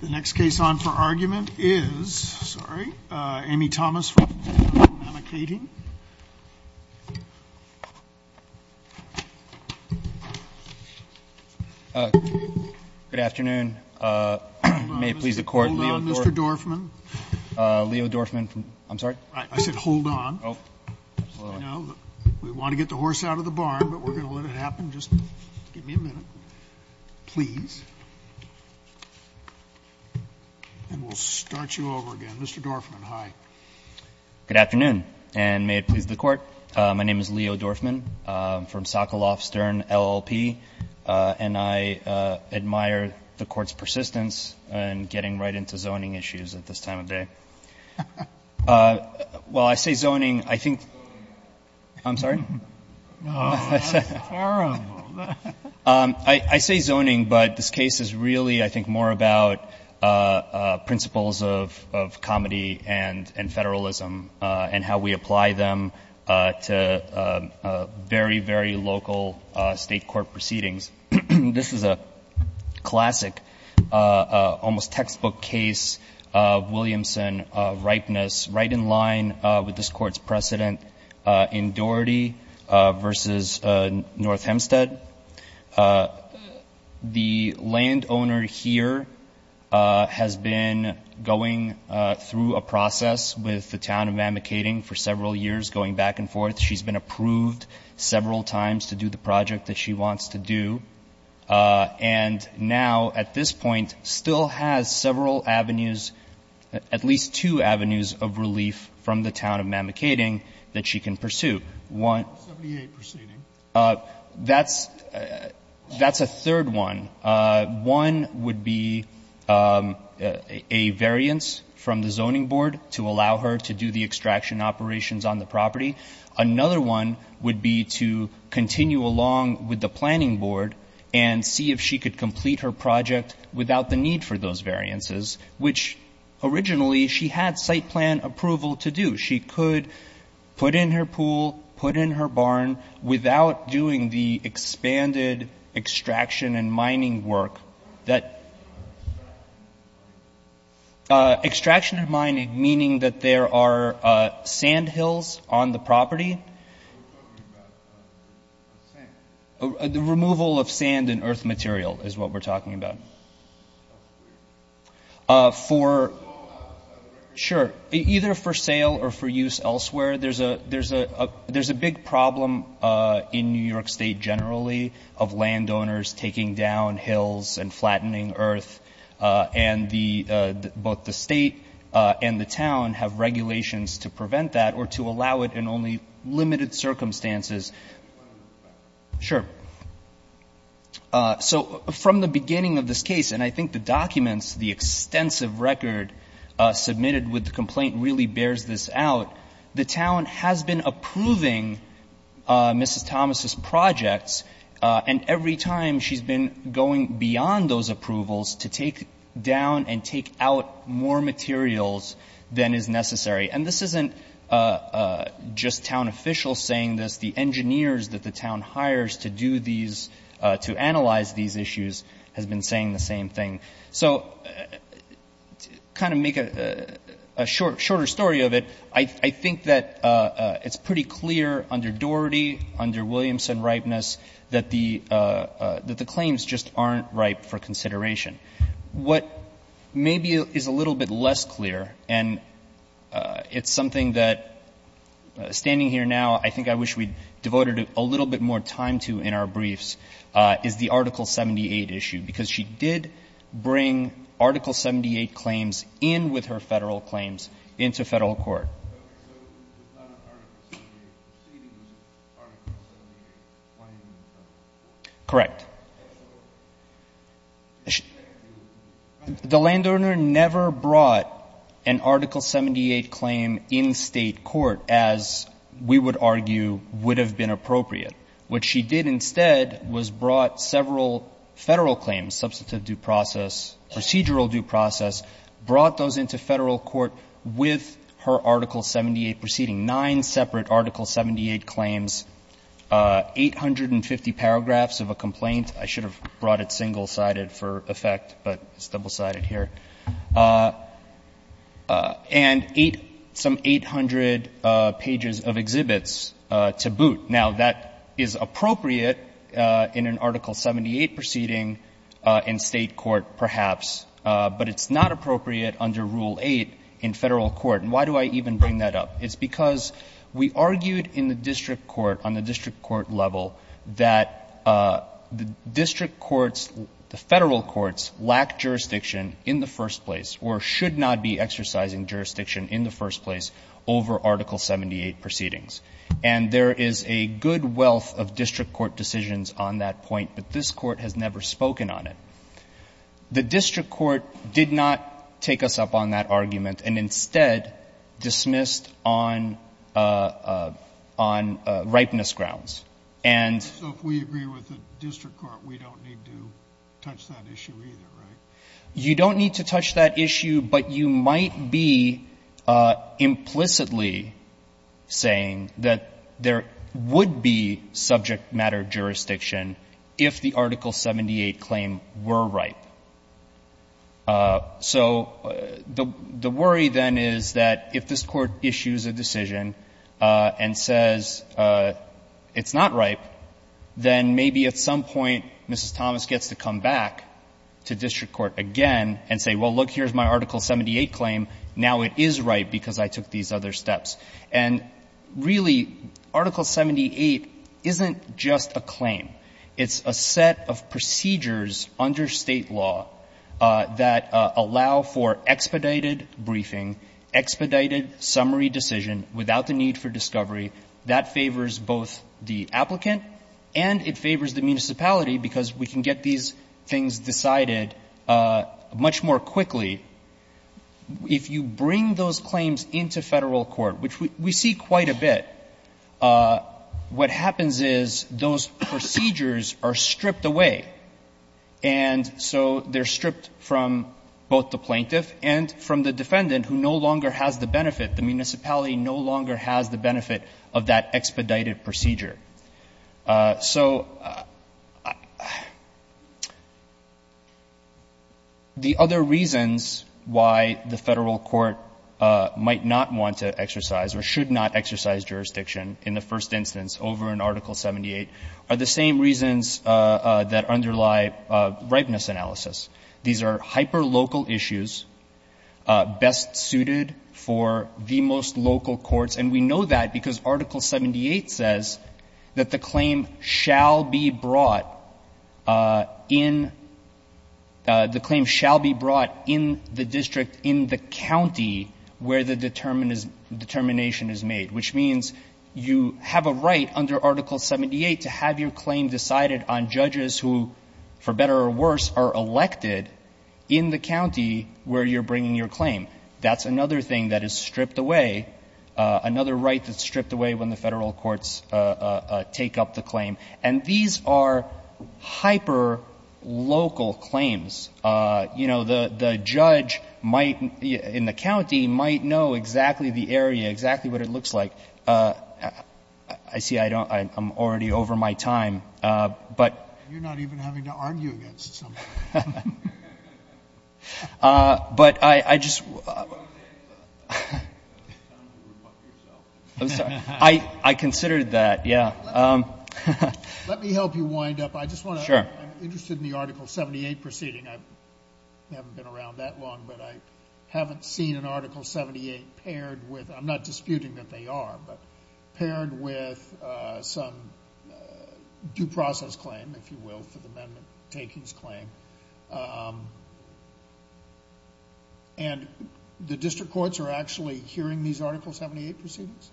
The next case on for argument is, sorry, Amy Thomas from Mamakating. Mr. Dorfman, I'm sorry. I said hold on. We want to get the horse out of the barn, but we're going to let it happen. Just give me a minute, please. And we'll start you over again. Mr. Dorfman, hi. Good afternoon, and may it please the Court. My name is Leo Dorfman. I'm from Sokoloff Stern, LLP, and I admire the Court's persistence in getting right into zoning issues at this time of day. While I say zoning, I think — I'm sorry? I say zoning, but this case is really, I think, more about principles of comedy and Federalism and how we apply them to very, very local State court proceedings. This is a classic, almost textbook case of Williamson ripeness, right in line with this Court's precedent in Doherty v. North Hempstead. The landowner here has been going through a process with the Town of Mamakating for several years, going back and forth. She's been approved several times to do the project that she wants to do, and now, at this point, still has several avenues, at least two avenues of relief from the Mamakating, that she can pursue. One — Scalia, proceeding. That's a third one. One would be a variance from the zoning board to allow her to do the extraction operations on the property. Another one would be to continue along with the planning board and see if she could complete her project without the need for those variances, which originally she had site plan approval to do. She could put in her pool, put in her barn, without doing the expanded extraction and mining work that — Extraction and mining, meaning that there are sand hills on the property? We're talking about the removal of sand and earth material is what we're talking about. For — Sure. Either for sale or for use elsewhere, there's a big problem in New York State generally of landowners taking down hills and flattening earth, and both the state and the town have regulations to prevent that or to allow it in only limited circumstances. Sure. So from the beginning of this case, and I think the documents, the extensive record submitted with the complaint really bears this out, the town has been approving Mrs. Thomas' projects, and every time she's been going beyond those approvals to take down and take out more materials than is necessary. And this isn't just town officials saying this. The engineers that the town hires to do these — to analyze these issues has been saying the same thing. So to kind of make a shorter story of it, I think that it's pretty clear under Doherty, under Williamson ripeness, that the claims just aren't ripe for consideration. What maybe is a little bit less clear, and it's something that, standing here now, I think I wish we'd devoted a little bit more time to in our briefs, is the Article 78 issue, because she did bring Article 78 claims in with her Federal claims into Federal court. Okay. So if it's not an Article 78 proceeding, it's Article 78 claiming in Federal court? Correct. Okay. The landowner never brought an Article 78 claim in State court, as we would argue would have been appropriate. What she did instead was brought several Federal claims, substantive due process, procedural due process, brought those into Federal court with her Article 78 proceeding, nine separate Article 78 claims, 850 paragraphs of a complaint. I should have brought it single-sided for effect, but it's double-sided here. And some 800 pages of exhibits to boot. Now, that is appropriate in an Article 78 proceeding in State court, perhaps. But it's not appropriate under Rule 8 in Federal court. And why do I even bring that up? It's because we argued in the district court, on the district court level, that the district courts, the Federal courts, lack jurisdiction in the first place or should not be exercising jurisdiction in the first place over Article 78 proceedings. And there is a good wealth of district court decisions on that point, but this court has never spoken on it. The district court did not take us up on that argument and instead dismissed on ripeness grounds. And so if we agree with the district court, we don't need to touch that issue either, right? You don't need to touch that issue, but you might be implicitly saying that there would be subject matter jurisdiction if the Article 78 claim were ripe. So the worry then is that if this Court issues a decision and says it's not ripe, then maybe at some point Mrs. Thomas gets to come back to district court again and say, well, look, here's my Article 78 claim, now it is ripe because I took these other steps. And really, Article 78 isn't just a claim. It's a set of procedures under State law that allow for expedited briefing, expedited summary decision without the need for discovery. That favors both the applicant and it favors the municipality because we can get these things decided much more quickly. If you bring those claims into Federal court, which we see quite a bit, what happens is those procedures are stripped away. And so they're stripped from both the plaintiff and from the defendant who no longer has the benefit. The municipality no longer has the benefit of that expedited procedure. So the other reasons why the Federal court might not want to exercise or should not exercise jurisdiction in the first instance over an Article 78 are the same reasons that underlie ripeness analysis. These are hyperlocal issues best suited for the most local courts, and we know that because Article 78 says that the claim shall be brought in the district in the county where the determination is made, which means you have a right under Article 78 to have your claim decided on judges who, for better or worse, are elected in the county where you're bringing your claim. That's another thing that is stripped away, another right that's stripped away when the Federal courts take up the claim. And these are hyperlocal claims. You know, the judge might, in the county, might know exactly the area, exactly what it looks like. I see I'm already over my time, but you're not even having to argue against something. But I just... I'm sorry. I considered that, yeah. Let me help you wind up. Sure. I'm interested in the Article 78 proceeding. I haven't been around that long, but I haven't seen an Article 78 paired with, I'm not disputing that they are, but paired with some due process claim, if you will, for the amendment takings claim. And the district courts are actually hearing these Article 78 proceedings?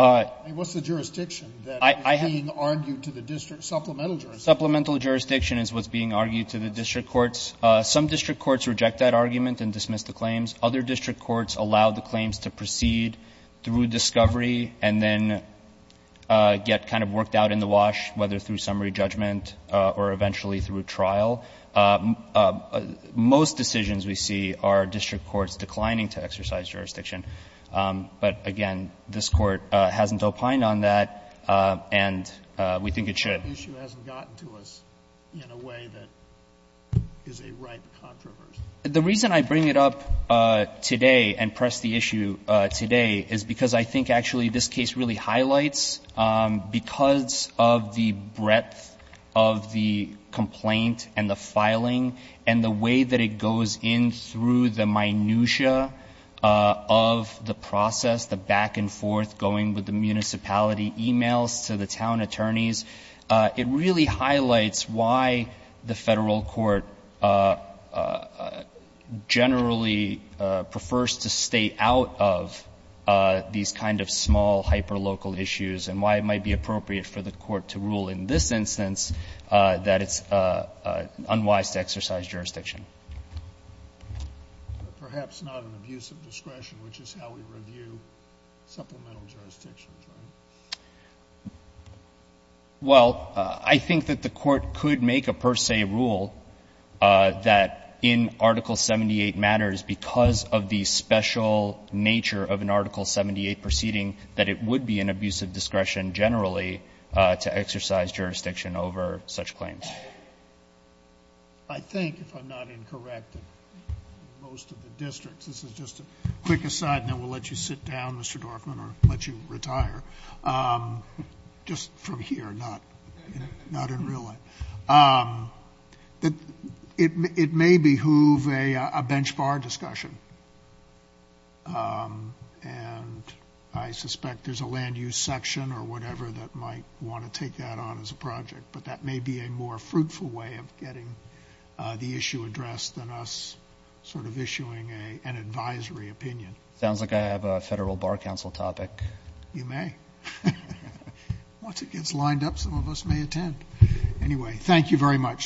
I mean, what's the jurisdiction that is being argued to the district? Supplemental jurisdiction. Supplemental jurisdiction is what's being argued to the district courts. Some district courts reject that argument and dismiss the claims. Other district courts allow the claims to proceed through discovery and then get kind of worked out in the wash, whether through summary judgment or eventually through trial. Most decisions we see are district courts declining to exercise jurisdiction. But, again, this Court hasn't opined on that, and we think it should. The issue hasn't gotten to us in a way that is a ripe controversy. The reason I bring it up today and press the issue today is because I think actually this case really highlights, because of the breadth of the complaint and the filing and the way that it goes in through the minutia of the process, the back and forth going with the municipality emails to the town attorneys, it really highlights why the Federal Court generally prefers to stay out of these kind of small, hyperlocal issues and why it might be appropriate for the Court to rule in this instance that it's unwise to exercise jurisdiction. But perhaps not an abuse of discretion, which is how we review supplemental jurisdictions, right? Well, I think that the Court could make a per se rule that in Article 78 matters because of the special nature of an Article 78 proceeding that it would be an abuse of discretion generally to exercise jurisdiction over such claims. I think, if I'm not incorrect, in most of the districts, this is just a quick aside and then we'll let you sit down, Mr. Dorfman, or let you retire, just from here, not in real life. It may behoove a bench bar discussion. And I suspect there's a land use section or whatever that might want to take that on as a project, but that may be a more fruitful way of getting the issue addressed than us sort of issuing an advisory opinion. Sounds like I have a Federal Bar Council topic. You may. Once it gets lined up, some of us may attend. Anyway, thank you very much.